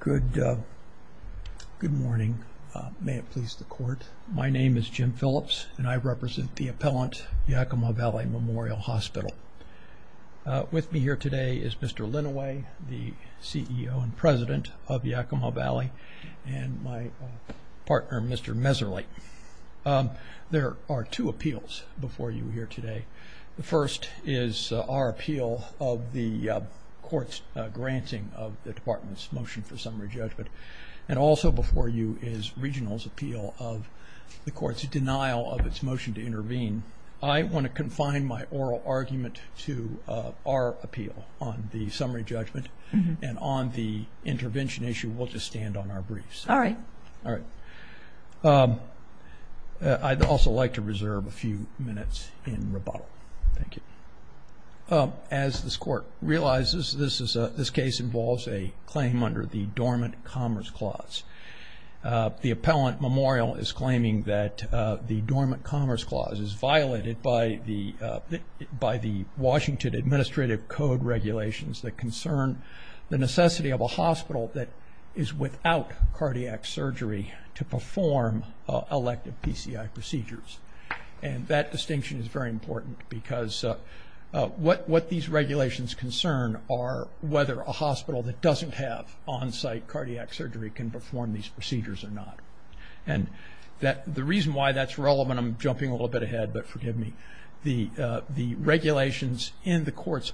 Good morning. May it please the court. My name is Jim Phillips and I represent the appellant Yakima Valley Memorial Hospital. With me here today is Mr. Linaway, the CEO and president of Yakima Valley, and my partner Mr. Meserle. There are two appeals before you here today. The first is our appeal of the court's granting of the department's motion for summary judgment, and also before you is regional's appeal of the court's denial of its motion to intervene. I want to confine my oral argument to our appeal on the summary judgment, and on the intervention issue we'll just stand on our briefs. All right. All right. I'd also like to reserve a few minutes in rebuttal. Thank you. As this court realizes, this case involves a claim under the Dormant Commerce Clause. The appellant memorial is claiming that the Dormant Commerce Clause is violated by the Washington Administrative Code regulations that concern the necessity of a hospital that is without cardiac surgery to perform elective PCI procedures, and that distinction is very important because what these regulations concern are whether a hospital that doesn't have on-site cardiac surgery can perform these procedures or not, and that the reason why that's relevant, I'm jumping a little bit ahead, but forgive me, the regulations in the court's,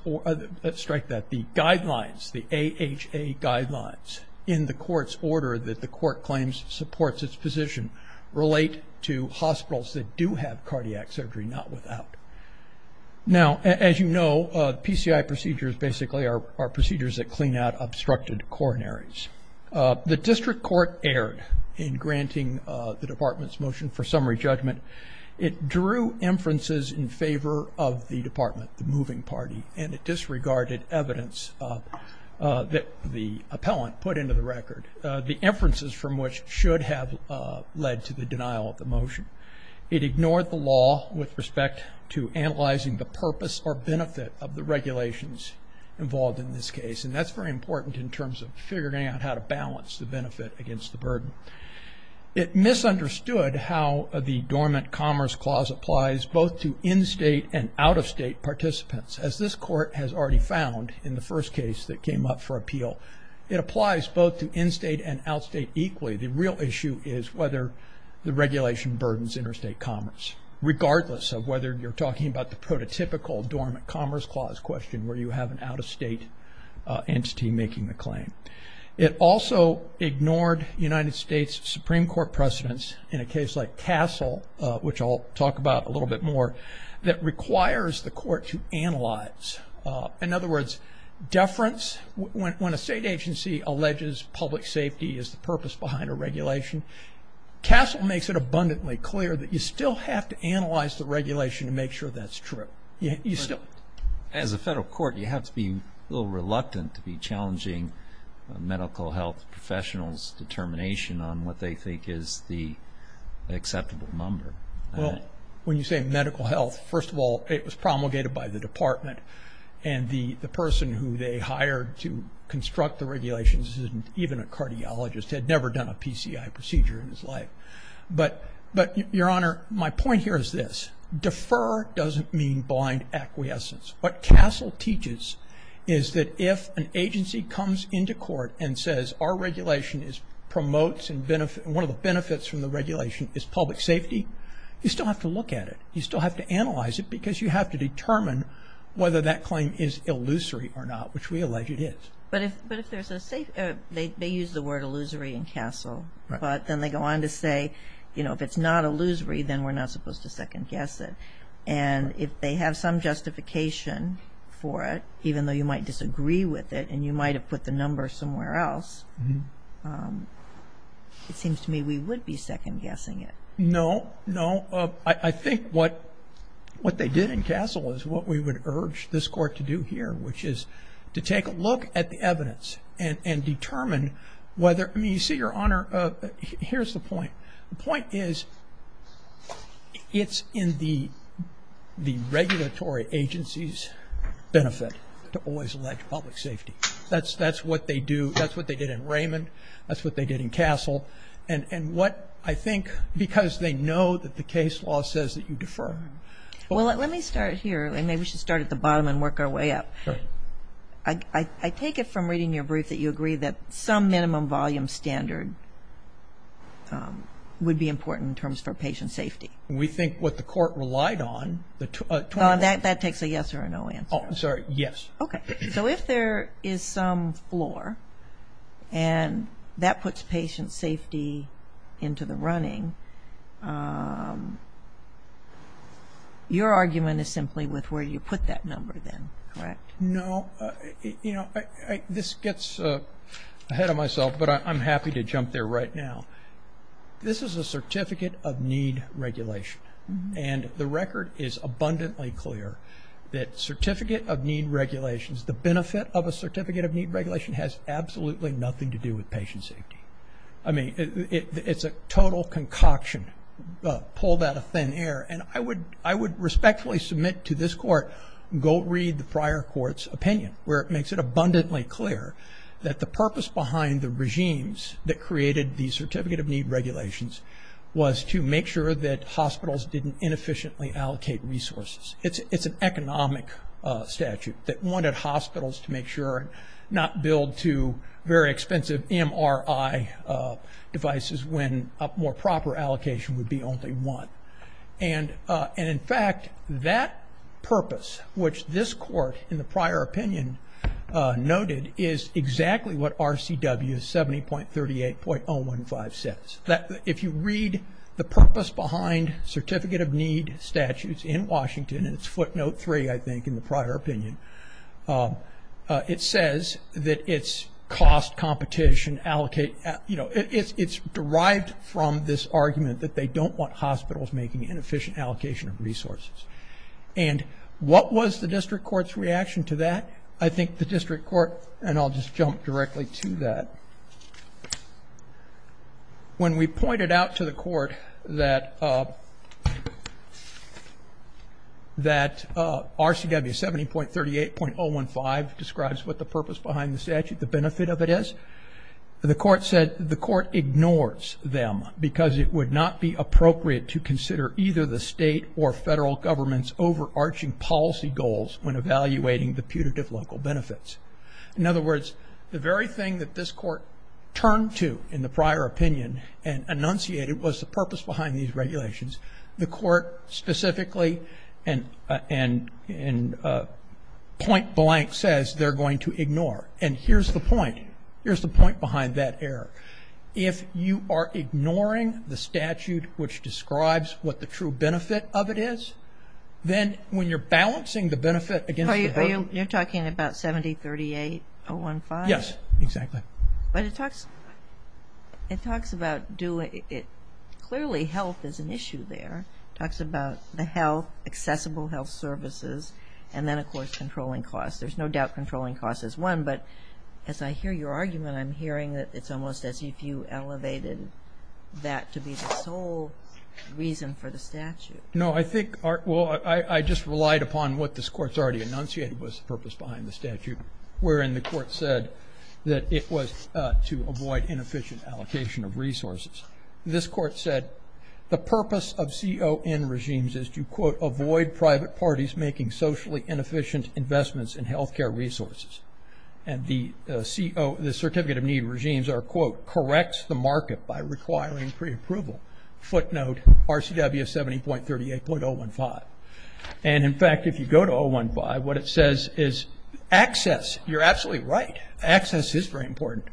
let's strike that, the guidelines, the AHA guidelines in the court's order that the court claims supports its position relate to PCI procedures basically are procedures that clean out obstructed coronaries. The district court erred in granting the department's motion for summary judgment. It drew inferences in favor of the department, the moving party, and it disregarded evidence that the appellant put into the record, the inferences from which should have led to the denial of the motion. It ignored the law with respect to analyzing the purpose or benefit of the regulations involved in this case, and that's very important in terms of figuring out how to balance the benefit against the burden. It misunderstood how the Dormant Commerce Clause applies both to in-state and out-of-state participants. As this court has already found in the first case that came up for appeal, it applies both to in-state and out-state equally. The real issue is whether the regulation burdens interstate commerce, regardless of whether you're talking about the prototypical Dormant Commerce Clause question where you have an out-of-state entity making the claim. It also ignored United States Supreme Court precedents in a case like Castle, which I'll talk about a little bit more, that requires the court to analyze. In other words, deference, when a state agency alleges public safety is the purpose behind a regulation, Castle makes it abundantly clear that you still have to analyze the regulation to make sure that's true. As a federal court, you have to be a little reluctant to be challenging medical health professionals' determination on what they think is the acceptable number. Well, when you say medical health, first of all, it was promulgated by the department, and the person who they hired to construct the regulations, even a cardiologist, had never done a PCI procedure in his life. But, Your Honor, my point here is this. Defer doesn't mean blind acquiescence. What Castle teaches is that if an agency comes into court and says, our regulation promotes and one of the benefits from the regulation is public safety, you still have to look at it. You still have to analyze it because you have to determine whether that claim is illusory or not, which we allege it is. But if there's a safe, they use the word illusory in Castle, but then they go on to say, you know, if it's not illusory, then we're not supposed to second guess it. And if they have some justification for it, even though you might disagree with it and you might have put the number somewhere else, it seems to me we would be second guessing it. No, no. I think what they did in Castle is what we would urge this court to do here, which is to take a look at the evidence and the point is it's in the regulatory agency's benefit to always allege public safety. That's what they do. That's what they did in Raymond. That's what they did in Castle. And what I think, because they know that the case law says that you defer. Well, let me start here. Maybe we should start at the bottom and work our way up. I take it from reading your brief that you agree that some minimum volume standard would be important in terms for patient safety. We think what the court relied on... That takes a yes or a no answer. Oh, sorry. Yes. Okay, so if there is some floor and that puts patient safety into the running, your argument is simply with where you put that number then, correct? No, you know, this gets ahead of myself, but I'm happy to jump there right now. This is a certificate of need regulation and the record is abundantly clear that certificate of need regulations, the benefit of a certificate of need regulation has absolutely nothing to do with patient safety. I mean, it's a total concoction pulled out of thin air and I would respectfully submit to this court, go read the prior court's opinion where it makes it abundantly clear that the purpose behind the regimes that created the certificate of need regulations was to make sure that hospitals didn't inefficiently allocate resources. It's an economic statute that wanted hospitals to make sure not build two very expensive MRI devices when a more proper allocation would be only one. And in fact, that purpose, which this court in the case noted, is exactly what RCW 70.38.015 says. That if you read the purpose behind certificate of need statutes in Washington, and it's footnote three, I think, in the prior opinion, it says that it's cost competition allocate, you know, it's derived from this argument that they don't want hospitals making inefficient allocation of resources. And what was the district court's reaction to that? I think the district court, and I'll just jump directly to that, when we pointed out to the court that RCW 70.38.015 describes what the purpose behind the statute, the benefit of it is, the court said the court ignores them because it would not be appropriate to consider either the state or federal government's overarching policy goals when evaluating the putative local benefits. In other words, the very thing that this court turned to in the prior opinion and enunciated was the purpose behind these regulations. The court specifically, in point-blank, says they're going to ignore. And here's the point. Here's the point behind that error. If you are ignoring the statute which describes what the true benefit of it is, then when you're balancing the benefit against... You're talking about 70.38.015? Yes, exactly. But it talks, it talks about, clearly health is an issue there. It talks about the health, accessible health services, and then of course controlling costs. There's no doubt controlling costs is one, but as I hear your argument, I'm hearing that it's almost as if you elevated that to be the sole reason for the statute. No, I think, well, I just relied upon what this court's already enunciated was the purpose behind the statute, wherein the court said that it was to avoid inefficient allocation of resources. This court said the purpose of CON regimes is to, quote, avoid private parties making socially inefficient investments in the market. This court, quote, corrects the market by requiring pre-approval. Footnote, RCW 70.38.015. And in fact, if you go to 015, what it says is access. You're absolutely right. Access is very important.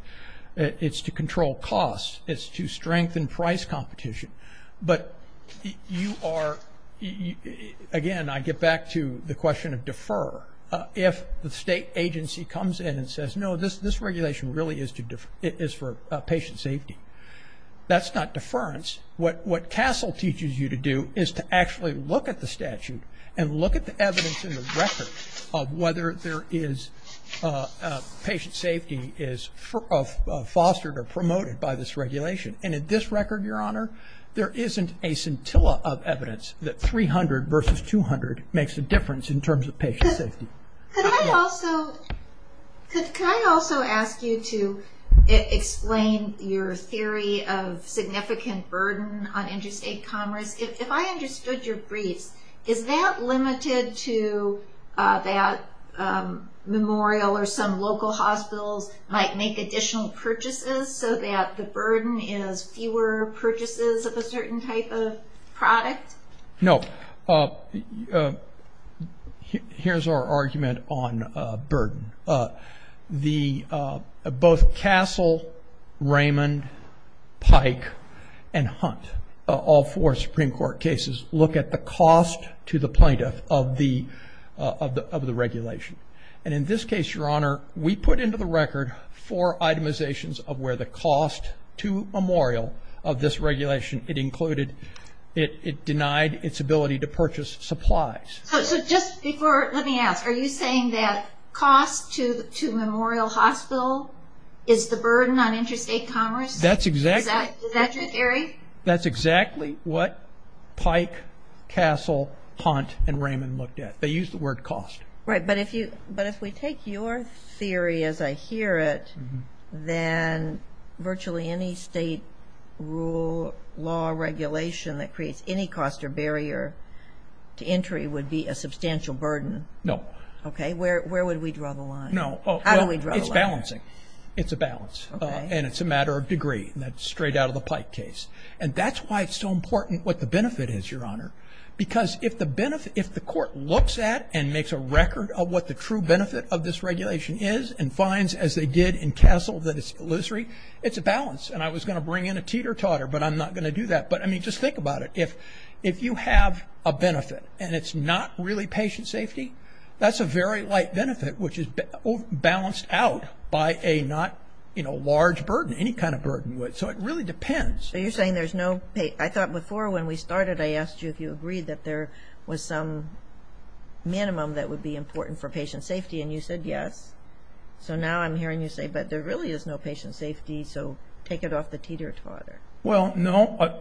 It's to control costs. It's to strengthen price competition. But you are, again, I get back to the question of defer. If the state agency comes in and says, no, this regulation really is for patient safety, that's not deference. What CASEL teaches you to do is to actually look at the statute and look at the evidence in the record of whether there is patient safety is fostered or promoted by this regulation. And in this record, Your Honor, there isn't a scintilla of evidence that 300 versus 200 makes a difference in terms of patient safety. Could I also ask you to explain your theory of significant burden on interstate commerce? If I understood your briefs, is that limited to that Memorial or some local hospitals might make additional purchases so that the burden is fewer purchases of a certain type of product? No. Here's our argument on burden. Both CASEL, Raymond, Pike, and Hunt, all four Supreme Court cases, look at the cost to the plaintiff of the regulation. And in this case, Your Honor, we put into the record four itemizations of where the its ability to purchase supplies. So just before, let me ask, are you saying that cost to Memorial Hospital is the burden on interstate commerce? That's exactly what Pike, CASEL, Hunt, and Raymond looked at. They used the word cost. Right. But if we take your theory as I hear it, then virtually any state law regulation that creates any cost or barrier to entry would be a substantial burden. No. Okay. Where would we draw the line? No. How do we draw the line? It's balancing. It's a balance. And it's a matter of degree. That's straight out of the Pike case. And that's why it's so important what the benefit is, Your Honor. Because if the benefit, if the court looks at and makes a record of what the true benefit of this regulation is and finds, as they did in CASEL, that it's illusory, it's a balance. And I was going to bring in a teeter-totter, but I'm not going to do that. But, I mean, just think about it. If you have a benefit and it's not really patient safety, that's a very light benefit, which is balanced out by a not, you know, large burden, any kind of burden. So it really depends. So you're saying there's no, I thought before when we started, I asked you if you agreed that there was some minimum that would be important for patient safety. And you said yes. So now I'm hearing you say, but there really is no patient safety, so take it off the teeter-totter. Well, no.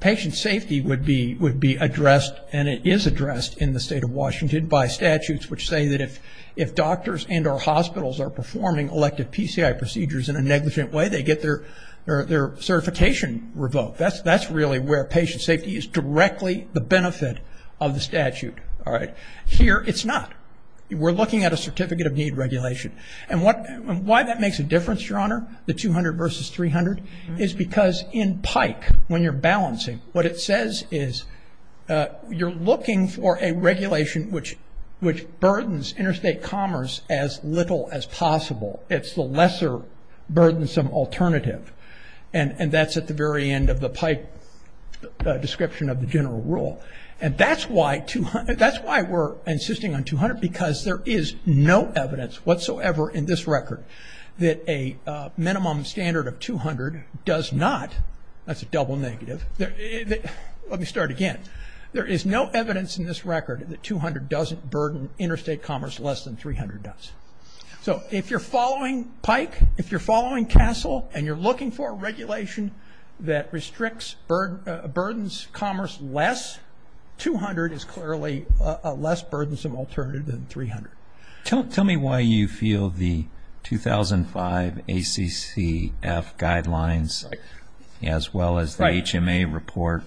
Patient safety would be addressed, and it is addressed in the state of Washington by statutes which say that if doctors and or hospitals are performing elective PCI procedures in a negligent way, they get their certification revoked. That's really where patient safety is directly the benefit of the statute. All right. Here, it's not. We're looking at a certificate of need regulation. And why that makes a difference, Your Honor, the 200 versus 300, is because in PIKE, when you're balancing, what it says is you're looking for a regulation which burdens interstate commerce as little as possible. It's the lesser burdensome alternative. And that's at the very end of the PIKE description of the general rule. And that's why we're insisting on 200, because there is no evidence whatsoever in this record that a minimum standard of 200 does not, that's a double negative. Let me start again. There is no evidence in this record that 200 doesn't burden interstate commerce less than 300 does. So if you're following PIKE, if you're following CASEL, and you're looking for a regulation that restricts, burdens commerce less, 200 is clearly a less burden. Right. Tell me why you feel the 2005 ACCF guidelines as well as the HMA report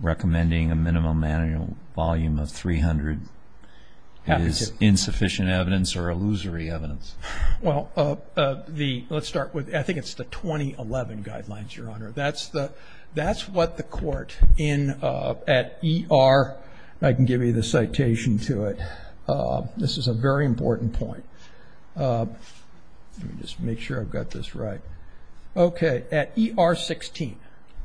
recommending a minimum volume of 300 is insufficient evidence or illusory evidence. Well, let's start with, I think it's the 2011 guidelines, Your Honor. That's what the court in, at ER, I can give you the citation to it. This is a very important point. Let me just make sure I've got this right. Okay. At ER 16,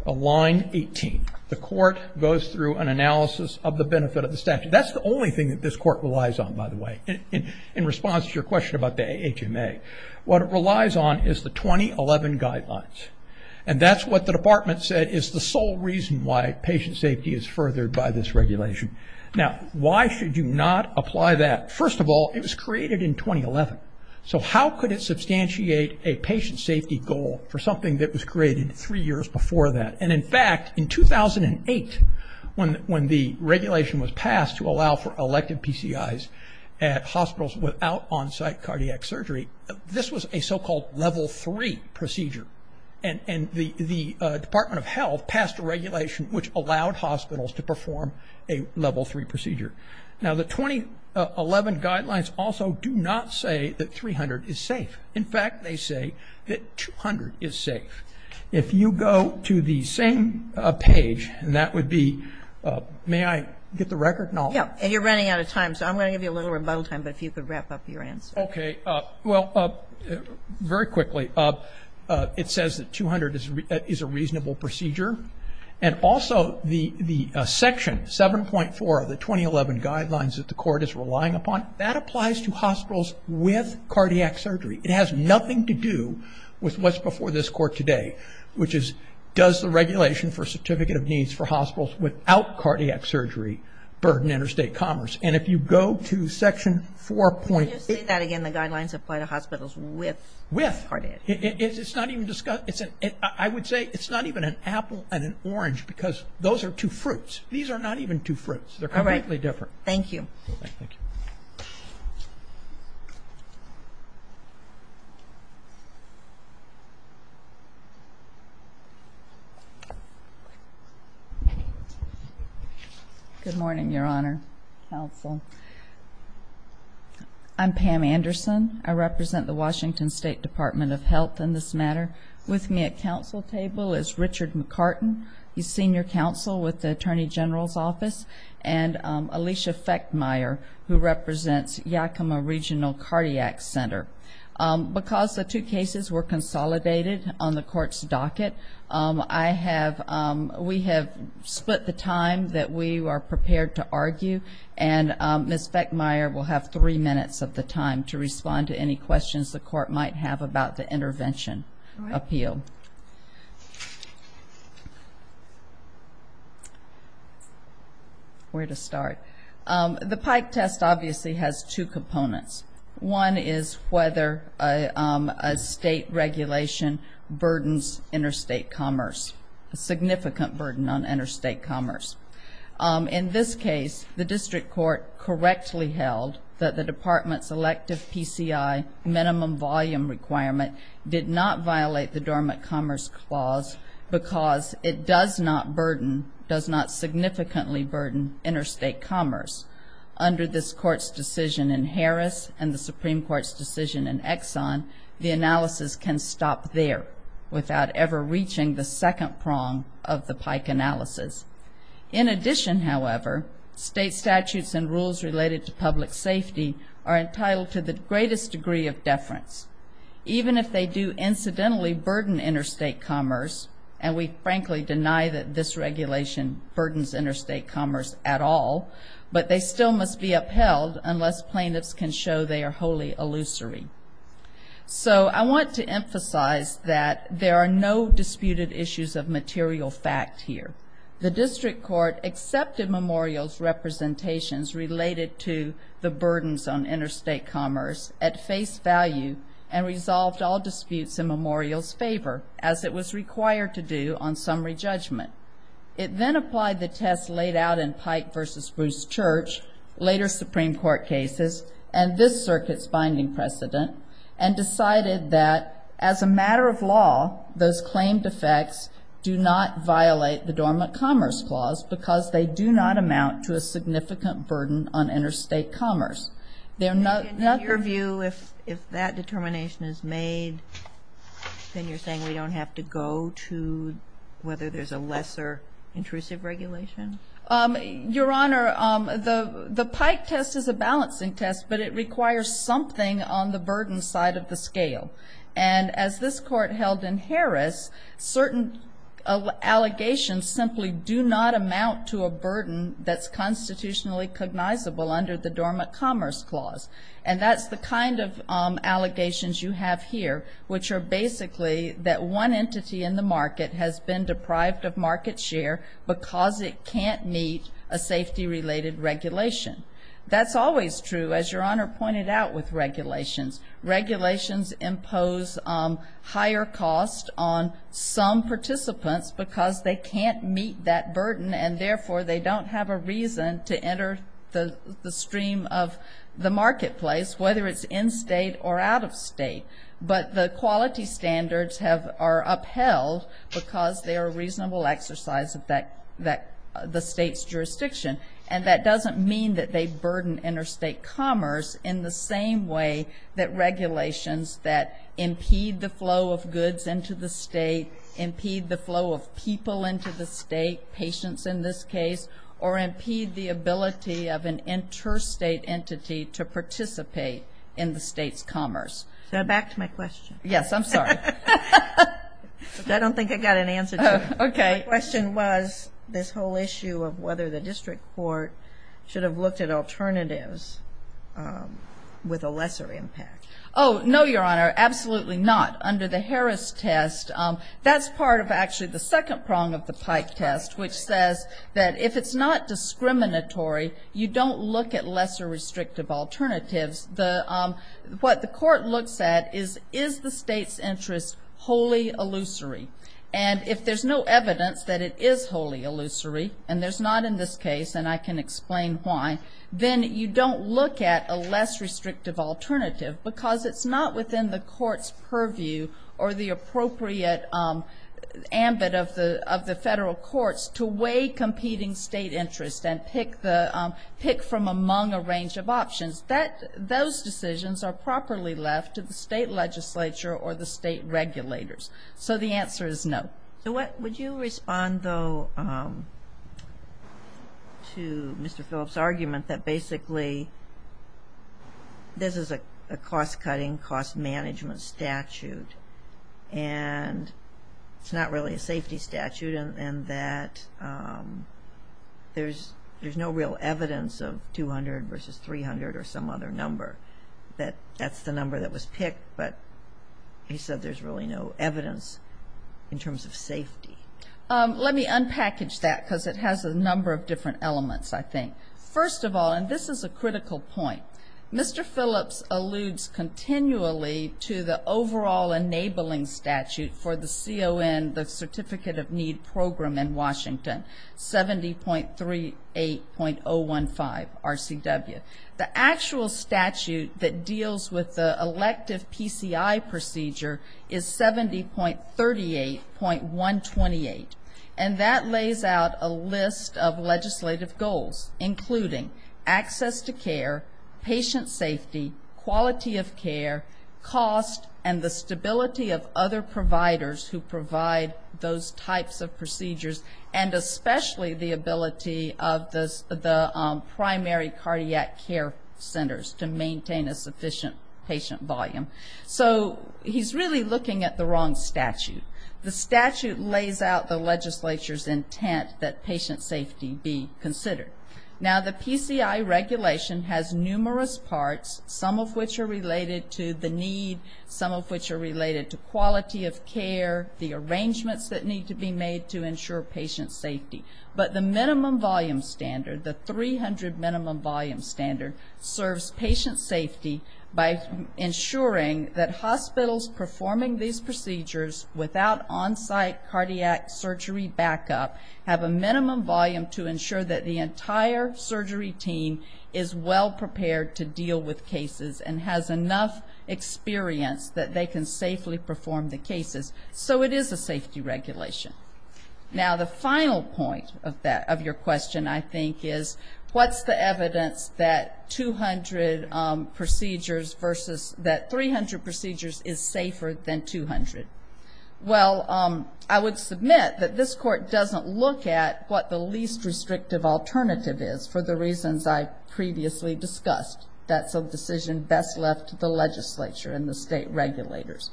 line 18, the court goes through an analysis of the benefit of the statute. That's the only thing that this court relies on, by the way, in response to your question about the HMA. What it relies on is the 2011 guidelines. And that's what the department said is the sole reason why patient safety is furthered by this regulation. Now, why should you not apply that? First of all, it was created in 2011. So how could it substantiate a patient safety goal for something that was created three years before that? And, in fact, in 2008, when the regulation was passed to allow for elective PCIs at hospitals without on-site cardiac surgery, this was a so-called level three procedure. And the Department of Health said it was a level three procedure. Now, the 2011 guidelines also do not say that 300 is safe. In fact, they say that 200 is safe. If you go to the same page, and that would be, may I get the record? And you're running out of time, so I'm going to give you a little rebuttal time, but if you could wrap up your answer. Okay. Well, very quickly, it says that 200 is a reasonable procedure. And also the section 7.4 of the 2011 guidelines that the court is relying upon, that applies to hospitals with cardiac surgery. It has nothing to do with what's before this court today, which is does the regulation for Certificate of Needs for Hospitals Without Cardiac Surgery burden interstate commerce? And if you go to section 4.8... Would you say that again, the guidelines apply to hospitals with cardiac surgery? With. It's not even discussed. I would say it's not even an apple and an orange because those are two fruits. These are not even two fruits. They're completely different. All right. Thank you. Good morning, Your Honor, Counsel. I'm Pam Anderson. I represent the Washington State Department of Health in this matter. With me at counsel table is Richard McCartin. He's senior counsel with the Attorney General's Office. And Alicia Fechtmeyer, who represents Yakima Regional Cardiac Center. Because the two cases were consolidated on the court's docket, we have split the time that we are prepared to argue. And Ms. Fechtmeyer will have three minutes of the time to respond to any questions the court might have about the intervention appeal. Where to start? The Pike test obviously has two components. One is whether a state regulation burdens interstate commerce, a significant burden on interstate commerce. In this case, the district court correctly held that the department's elective PCI minimum volume requirement did not violate the government commerce clause because it does not burden, does not significantly burden interstate commerce. Under this court's decision in Harris and the Supreme Court's decision in Exxon, the analysis can stop there without ever reaching the second prong of the Pike analysis. In addition, however, state statutes and rules related to public safety are entitled to the greatest degree of deference. Even if they do incidentally burden interstate commerce, and we frankly deny that this regulation burdens interstate commerce at all, but they still must be upheld unless plaintiffs can show they are wholly illusory. So I want to emphasize that there are no disputed issues of material fact here. The district court accepted Memorial's representations related to the burdens on interstate commerce at face value and resolved all disputes in Memorial's favor, as it was required to do on summary judgment. It then applied the test laid out in Pike v. Bruce Church, later Supreme Court cases, and this circuit's binding precedent, and decided that as a matter of law, those claimed effects do not violate the dormant commerce clause because they do not amount to a significant burden on interstate commerce. They're not the other view if that determination is made, then you're saying we don't have to go to whether there's a lesser intrusive regulation? Your Honor, the Pike test is a balancing test, but it requires something on the burden side of the scale. And as this Court held in Harris, certain allegations simply do not amount to a burden that's constitutionally cognizable under the dormant commerce clause. And that's the kind of allegations you have here, which are basically that one entity in the market has been deprived of market share because it can't meet a safety-related regulation. That's always true, as Your Honor pointed out with regulations. Regulations impose higher costs on some participants because they can't meet that burden, and therefore they don't have a stream of the marketplace, whether it's in-state or out-of-state. But the quality standards are upheld because they are a reasonable exercise of the state's jurisdiction. And that doesn't mean that they burden interstate commerce in the same way that regulations that impede the flow of goods into the state, impede the flow of people into the state, patients in this case, or impede the first state entity to participate in the state's commerce. Go back to my question. Yes, I'm sorry. I don't think I got an answer to it. My question was this whole issue of whether the district court should have looked at alternatives with a lesser impact. Oh, no, Your Honor, absolutely not. Under the Harris test, that's part of actually the second prong of the Pike test, which says that if it's not discriminatory, you don't look at lesser restrictive alternatives. What the court looks at is, is the state's interest wholly illusory? And if there's no evidence that it is wholly illusory, and there's not in this case, and I can explain why, then you don't look at a less restrictive alternative because it's not within the court's purview or the appropriate ambit of the federal courts to weigh competing state interests and pick from among a range of options. Those decisions are properly left to the state legislature or the state regulators. So the answer is no. So would you respond, though, to Mr. Phillips' argument that basically this is a cost-cutting, cost-management statute, and it's not really a safety statute, and that there's no real evidence of 200 versus 300 or some other number, that that's the number that was picked, but he said there's really no evidence in terms of safety. Let me unpackage that because it has a number of different elements, I think. First of all, and this is a critical point, Mr. Phillips alludes continually to the overall enabling statute for the CON, the Certificate of Need program in Washington, 70.38.015 RCW. The actual statute that deals with the elective PCI procedure is 70.38.128, and that lays out a list of legislative goals, including access to care, patient safety, quality of care, cost, and the stability of other providers who provide those types of procedures, and especially the ability of the primary cardiac care centers to maintain a sufficient patient volume. So he's really looking at the wrong statute. The statute lays out the Now, the PCI regulation has numerous parts, some of which are related to the need, some of which are related to quality of care, the arrangements that need to be made to ensure patient safety, but the minimum volume standard, the 300 minimum volume standard, serves patient safety by ensuring that hospitals performing these procedures without on-site cardiac surgery backup have a minimum volume to ensure that the entire surgery team is well prepared to deal with cases and has enough experience that they can safely perform the cases. So it is a safety regulation. Now, the final point of your question, I think, is what's the evidence that 200 procedures versus that 300 procedures is safer than 200? Well, I would submit that this court doesn't look at what the least restrictive alternative is for the reasons I previously discussed. That's a decision best left to the legislature and the state regulators.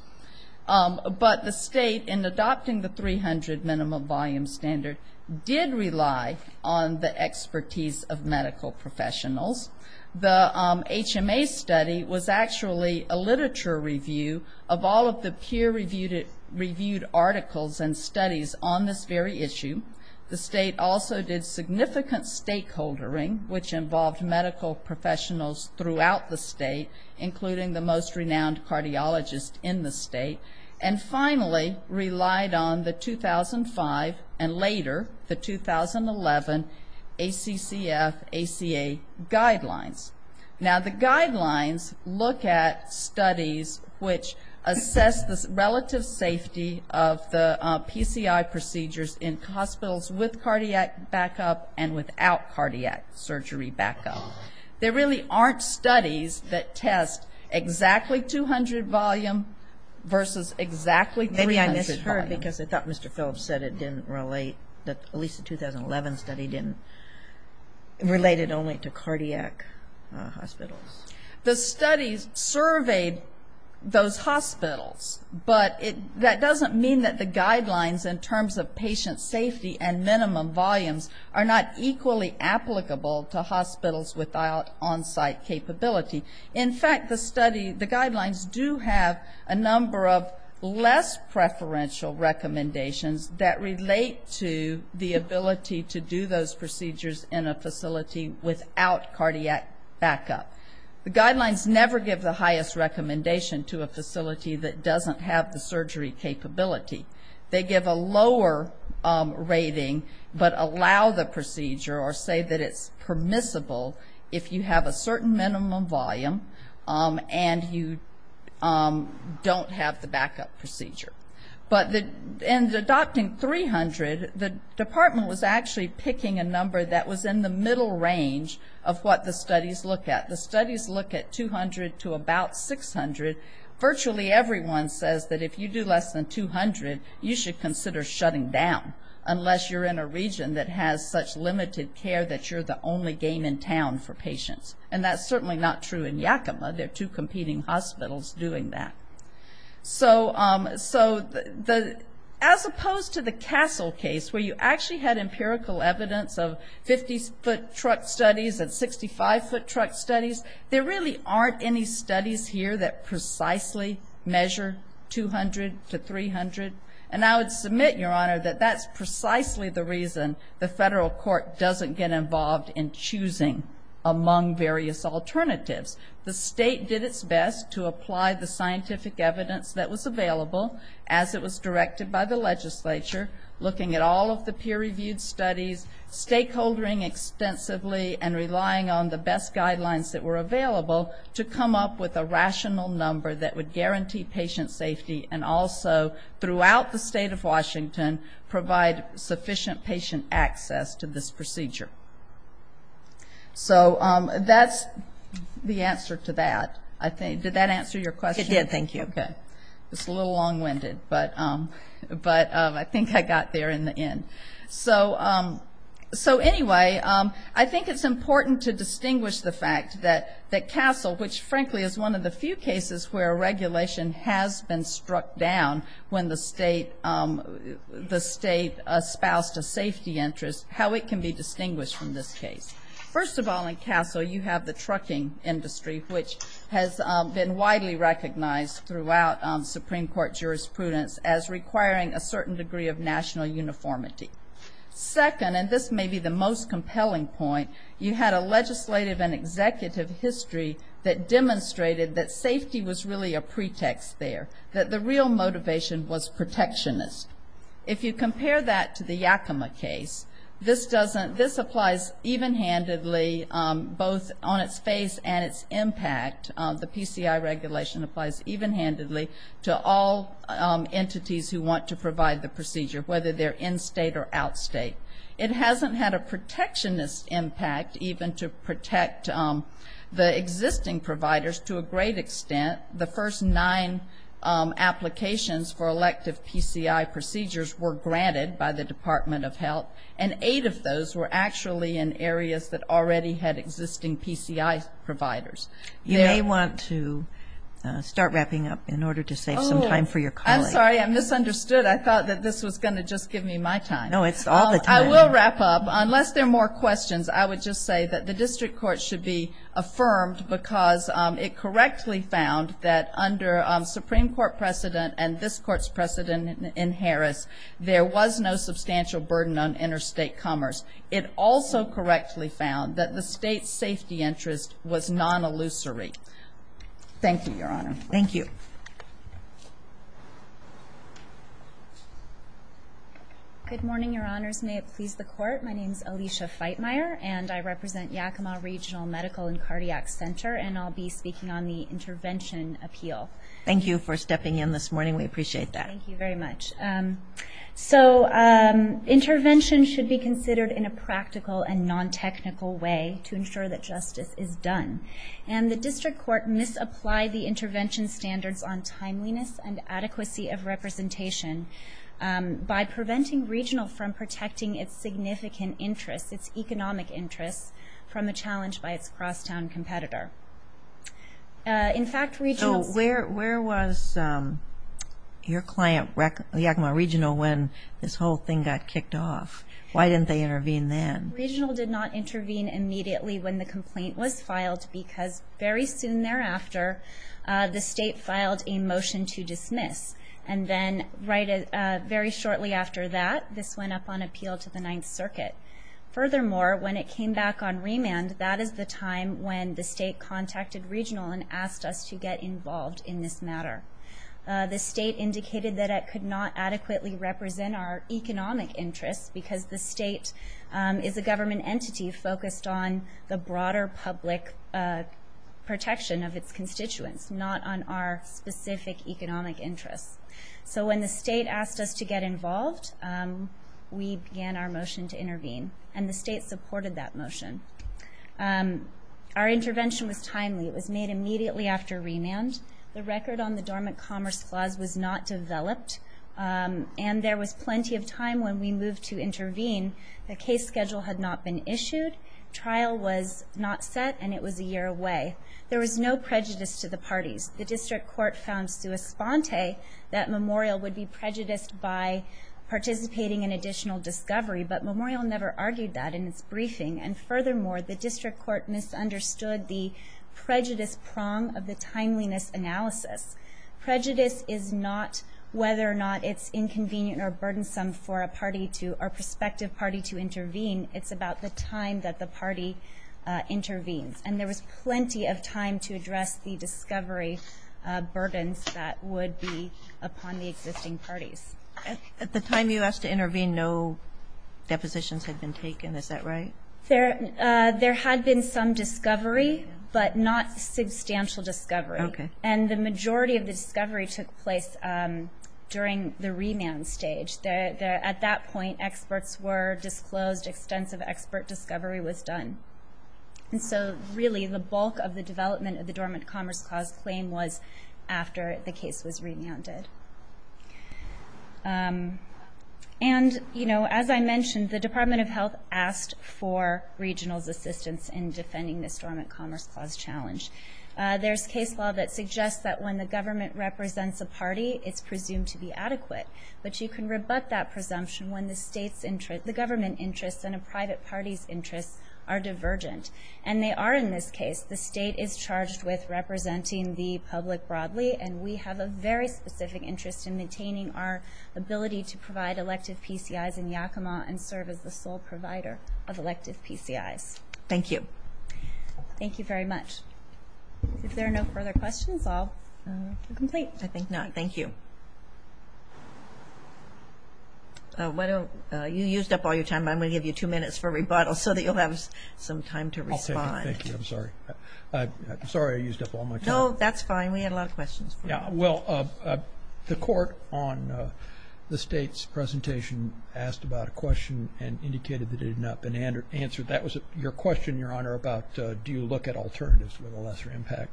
But the state, in adopting the 300 minimum volume standard, did rely on the expertise of medical professionals. The HMA study was actually a literature review of all of the peer-reviewed articles and studies on this very issue. The state also did significant stakeholdering, which involved medical professionals throughout the state, including the most renowned cardiologist in the state, and finally relied on the 2005 and later the 2011 ACCF ACA guidelines. Now, the guidelines look at studies which assess the relative safety of the PCI procedures in hospitals with cardiac backup and without cardiac surgery backup. There really aren't studies that test exactly 200 volume versus exactly 300 volume. Maybe I misheard, because I thought Mr. Phillips said it didn't relate, that at least the 2011 study didn't, related only to cardiac hospitals. The studies surveyed those hospitals, but that doesn't mean that the guidelines in terms of patient safety and minimum volumes are not equally applicable to hospitals without on-site capability. In fact, the study, the guidelines do have a number of less preferential recommendations that relate to the ability to do those procedures in a facility without cardiac backup. The guidelines never give the highest recommendation to a facility that doesn't have the surgery capability. They give a lower rating, but allow the procedure or say that it's permissible if you have a certain minimum volume and you don't have the backup procedure. But in adopting 300, the department was actually picking a number that was in the middle range of what the studies look at. The studies look at 200 to about 600. Virtually everyone says that if you do less than 200, you should consider shutting down, unless you're in a region that has such limited care that you're the only game in town for patients. And that's certainly not true in Yakima. There are two competing hospitals doing that. So as opposed to the Castle case, where you actually had empirical evidence of 50-foot truck studies and 65-foot truck studies, there really aren't any studies here that precisely measure 200 to 300. And I would submit, Your Honor, that that's precisely the reason the federal court doesn't get involved in choosing among various alternatives. The state did its best to apply the scientific evidence that was available, as it was directed by the legislature, looking at all of the peer-reviewed studies, stakeholdering extensively and relying on the best guidelines that were available to come up with a rational number that would guarantee patient safety and also, throughout the state of Yakima. So that's the answer to that. Did that answer your question? It did, thank you. Okay. It's a little long-winded, but I think I got there in the end. So anyway, I think it's important to distinguish the fact that Castle, which frankly is one of the few cases where regulation has been struck down when the state espoused a safety interest, how it can be distinguished from this case. First of all, in Castle, you have the trucking industry, which has been widely recognized throughout Supreme Court jurisprudence as requiring a certain degree of national uniformity. Second, and this may be the most compelling point, you had a legislative and executive history that demonstrated that safety was really a pretext there, that the real motivation was protectionist. If you compare that to the Yakima case, this applies even-handedly, both on its face and its impact. The PCI regulation applies even-handedly to all entities who want to provide the procedure, whether they're in-state or out-state. It hasn't had a protectionist impact, even to protect the existing providers to a great extent. The first nine applications for elective PCI procedures were granted by the Department of Health, and eight of those were actually in areas that already had existing PCI providers. You may want to start wrapping up in order to save some time for your colleague. Oh, I'm sorry. I misunderstood. I thought that this was going to just give me my time. No, it's all the time. I will wrap up. Unless there are more questions, I would just say that the district court should be affirmed because it correctly found that under Supreme Court precedent and this Court's precedent in Harris, there was no substantial burden on interstate commerce. It also correctly found that the State's safety interest was non-illusory. Thank you, Your Honor. Thank you. Good morning, Your Honors. May it please the Court, my name is Alicia Feitmeyer, and I represent Yakima Regional Medical and Cardiac Center, and I'll be speaking on the intervention appeal. Thank you for stepping in this morning. We appreciate that. Thank you very much. So, intervention should be considered in a practical and non-technical way to ensure that justice is done, and the district court misapplied the intervention standards on timeliness and adequacy of representation by preventing Regional from protecting its significant interests, its economic interests, from a challenge by its crosstown competitor. In fact, Regional's... Where was your client, Yakima Regional, when this whole thing got kicked off? Why didn't they intervene then? Regional did not intervene immediately when the complaint was filed because very soon thereafter, the State filed a motion to dismiss, and then very shortly after that, this went up on appeal to the Ninth Circuit. Furthermore, when it came back on remand, that is the time when the State contacted Regional and asked us to get involved in this matter. The State indicated that it could not adequately represent our economic interests because the State is a government entity focused on the broader public protection of its constituents, not on our specific economic interests. So when the State asked us to get involved, we began our motion to intervene, and the State supported that motion. Our intervention was timely. It was made immediately after remand. The record on the Dormant Commerce Clause was not developed, and there was plenty of time when we moved to intervene. The case schedule had not been issued, trial was not set, and it was a year away. There was no prejudice to the parties. The District Court found sui sponte that Memorial would be prejudiced by participating in additional discovery, but Memorial never argued that in its briefing, and furthermore, the District Court misunderstood the prejudice prong of the timeliness analysis. Prejudice is not whether or not it's inconvenient or burdensome for a party to or prospective party to intervene. It's about the time that the party intervenes, and there was plenty of time to address the discovery burdens that would be upon the existing parties. At the time you asked to intervene, no depositions had been taken. Is that right? There had been some discovery, but not substantial discovery. Okay. And the majority of the discovery took place during the remand stage. At that point, experts were disclosed, extensive expert discovery was done. And so really, the bulk of the development of the Dormant Commerce Clause claim was after the case was remanded. And as I mentioned, the Department of Health asked for regional's assistance in defending the Dormant Commerce Clause challenge. There's case law that suggests that when the government represents a party, it's presumed to be adequate, but you can rebut that presumption when the government interests and a private party's interests are divergent, and they are in this case. The state is charged with representing the public broadly, and we have a very specific interest in maintaining our ability to provide elective PCIs in Yakima and serve as the sole provider of elective PCIs. Thank you. Thank you very much. If there are no further questions, I'll complete. I think not. Thank you. You used up all your time. I'm gonna give you two minutes for rebuttal, so that you'll have some time to respond. I'll take it. Thank you. I'm sorry I used up all my time. No, that's fine. We had a lot of questions. Yeah. Well, the court on the state's presentation asked about a question and indicated that it had not been answered. That was your question, Your Honor, about do you look at alternatives with a lesser impact?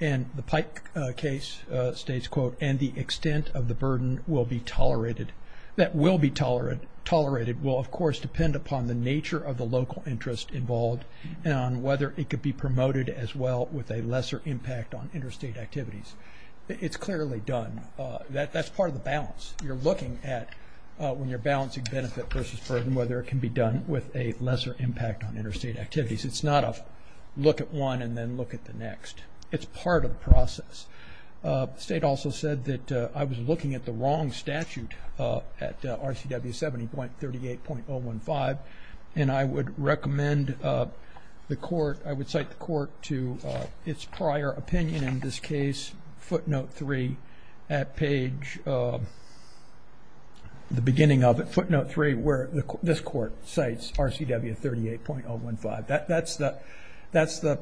And the Pike case states, quote, and the extent of the burden will be tolerated. That will be tolerated will, of course, depend upon the nature of the local interest involved and on whether it could be promoted as well with a lesser impact on interstate activities. It's clearly done. That's part of the balance. You're looking at, when you're balancing benefit versus burden, whether it can be done with a lesser impact on interstate activities. It's not a look at one and then look at the next. It's part of the process. The state also said that I was looking at the wrong statute at RCW 70.38.015, and I would recommend the court, I would cite the court to its prior opinion in this case, footnote three at page, the beginning of it, footnote three, where this court cites RCW 38.015. That's the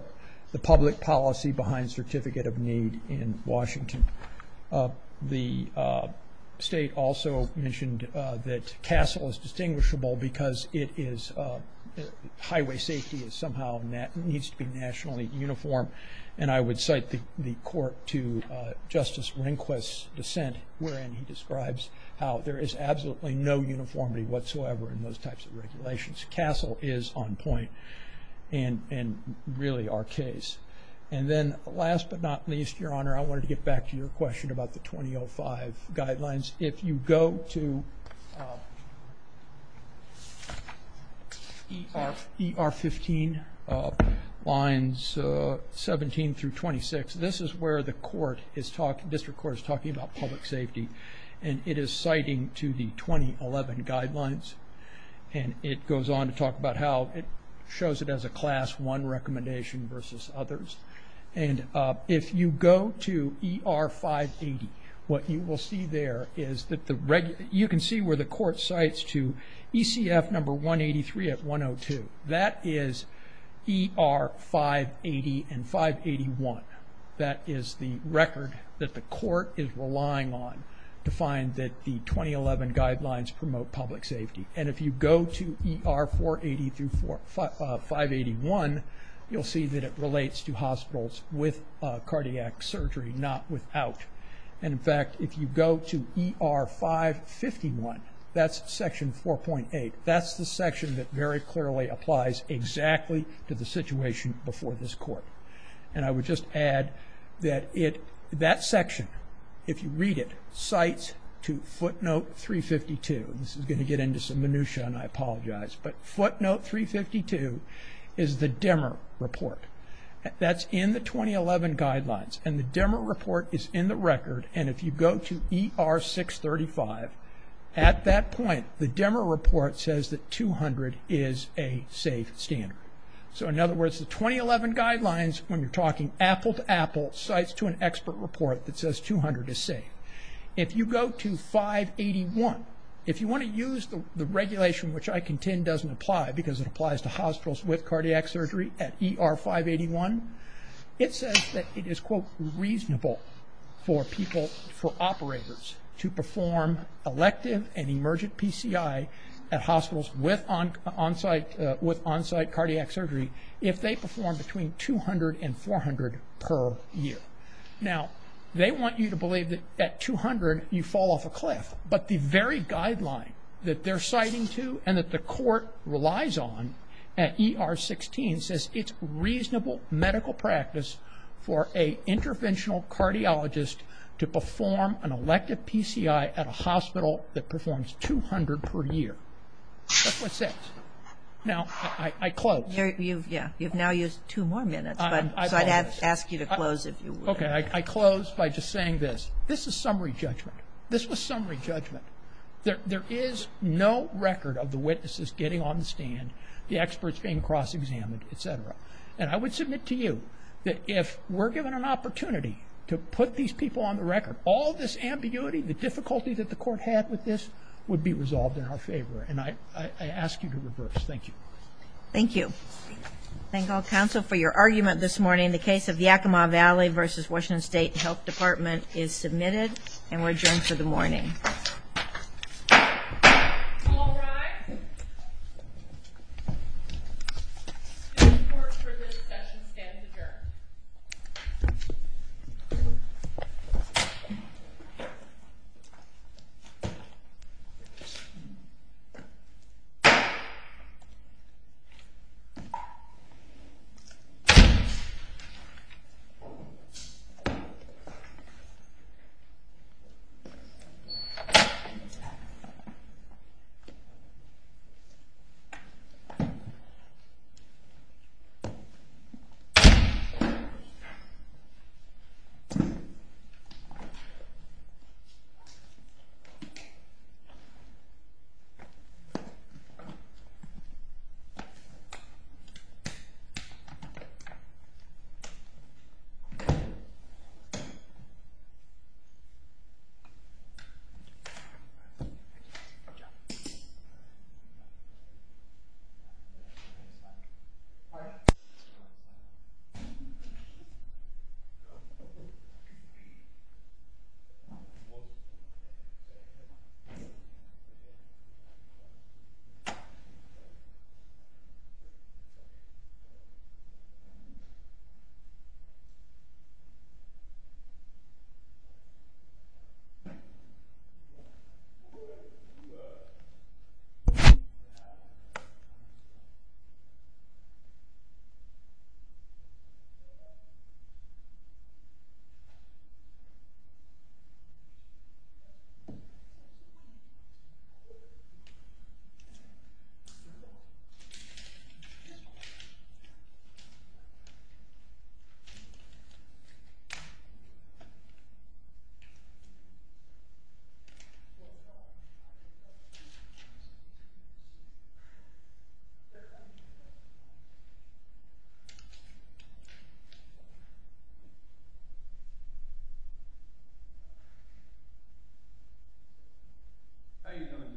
public policy behind Certificate of Need in Washington. The state also mentioned that CASEL is distinguishable because highway safety somehow needs to be nationally uniform. And I would cite the court to Justice Rehnquist's dissent, wherein he describes how there is absolutely no uniformity whatsoever in those types of regulations. CASEL is on point and really our case. And then last but not least, Your Honor, I wanted to get back to your question about the 2005 guidelines. If you go to ER 15 lines 17 through 26, this is where the court is talking, district court is talking about public safety, and it is citing to the 2011 guidelines. And it goes on to talk about how it shows it as a class one recommendation versus others. And if you go to ER 580, what you will see there is that the regular, you can see where the court cites to ECF number 183 at 102. That is ER 580 and 581. That is the record that the court is relying on to find that the 2011 guidelines promote public safety. And if you go to ER 480 through 581, you'll see that it in fact, if you go to ER 551, that's section 4.8, that's the section that very clearly applies exactly to the situation before this court. And I would just add that that section, if you read it, cites to footnote 352. This is going to get into some minutia and I apologize, but footnote 352 is the dimmer report. That's in the 2011 guidelines and the dimmer report is in the record. And if you go to ER 635, at that point, the dimmer report says that 200 is a safe standard. So in other words, the 2011 guidelines, when you're talking apple to apple, cites to an expert report that says 200 is safe. If you go to 581, if you want to use the regulation which I contend doesn't apply because it applies to hospitals with cardiac surgery at ER 581, it says that it is, quote, reasonable for people, for operators to perform elective and emergent PCI at hospitals with on-site cardiac surgery if they perform between 200 and 400 per year. Now, they want you to believe that at 200, you fall off a cliff, but the very guideline that they're citing to and that the for an interventional cardiologist to perform an elective PCI at a hospital that performs 200 per year. That's what it says. Now, I close. You've now used two more minutes, so I'd ask you to close if you would. Okay, I close by just saying this. This is summary judgment. This was summary judgment. There is no record of the witnesses getting on the stand, the court. We're given an opportunity to put these people on the record. All this ambiguity, the difficulty that the court had with this would be resolved in our favor, and I ask you to reverse. Thank you. Thank you. Thank all counsel for your argument this morning. The case of Yakima Valley versus Washington State Health Department is submitted, and we're adjourned for the morning. All rise. The court for this session stands adjourned. Thank you. Thank you. Thank you. Thank you. How you doing, Jeff? All right. Thank you. Thank you.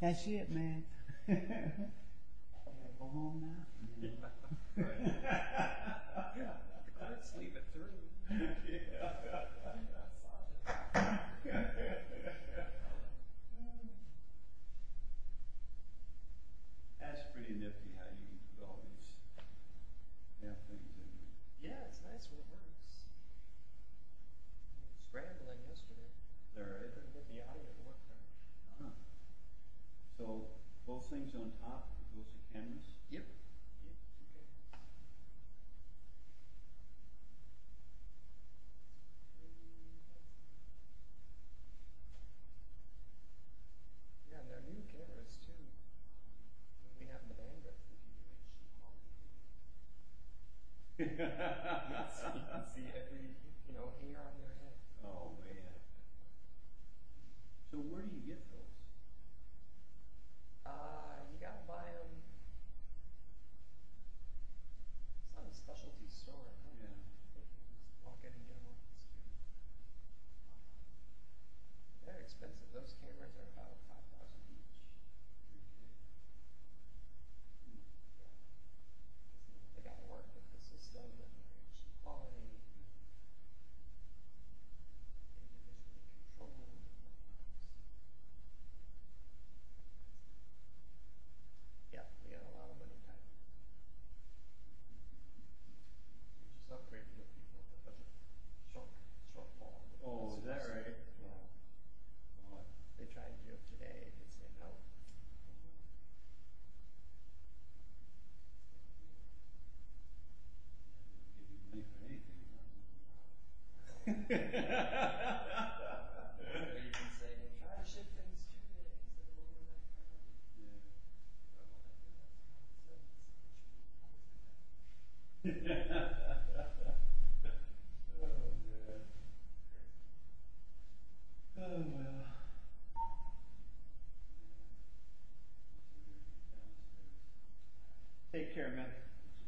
That's it, man. That's pretty nifty how you use those. Yeah, it's nice when it works. So, both things on top, is this the canvas? Yep. You can see every, you know, A on your head. Oh, man. So, where do you get those? Ah, you gotta buy them... ...at a specialty store. Yeah. They're expensive. Those came right there for about $5,000 each. Oh. You gotta work with the system. Yep. Oh, is that right? Yeah. They're trying to do it today. Or you can say... Oh, yeah. Oh, man. Take care, man. Thank you. Thank you. How you doing? Hi there. How you doing? Good to go? You can sign on this one. Let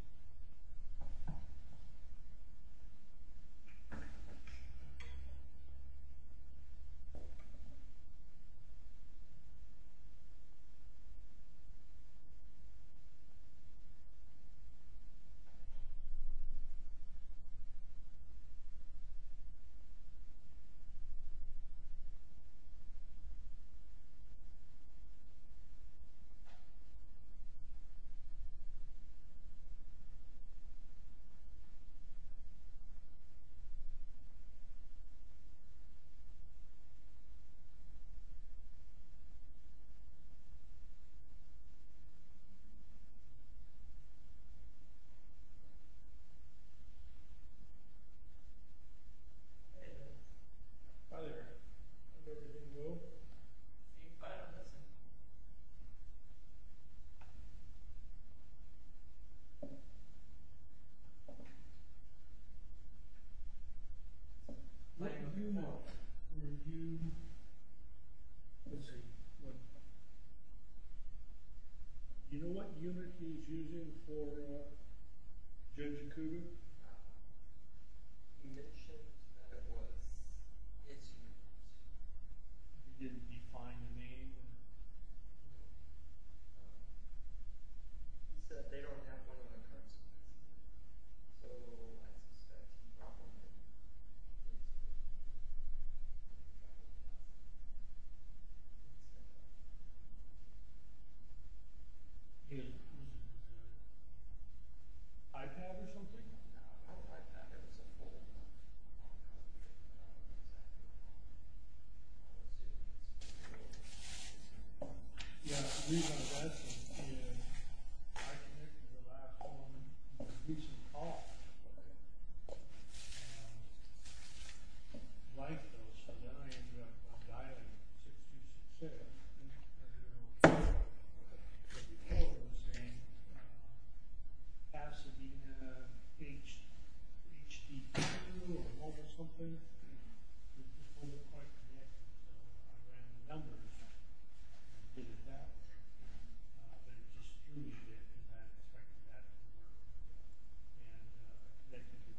me know if you... Let's see. Do you know what unit he's using for... ...the recruiting? No. He didn't define the name? No. iPad or something? No, no iPad. Yeah, the reason I'm asking is... ...I connected to the laptop... ...and it keeps me up. And... ...like those... ...then I ended up... ...dialing... ...to... ...the same... ...capacity... ...HD... ...HD2... ...or mobile something... ...and... ...people were quite... ...and numbers... ...did that... ...and... ...they distributed it... ...and... ...yeah. Thank you.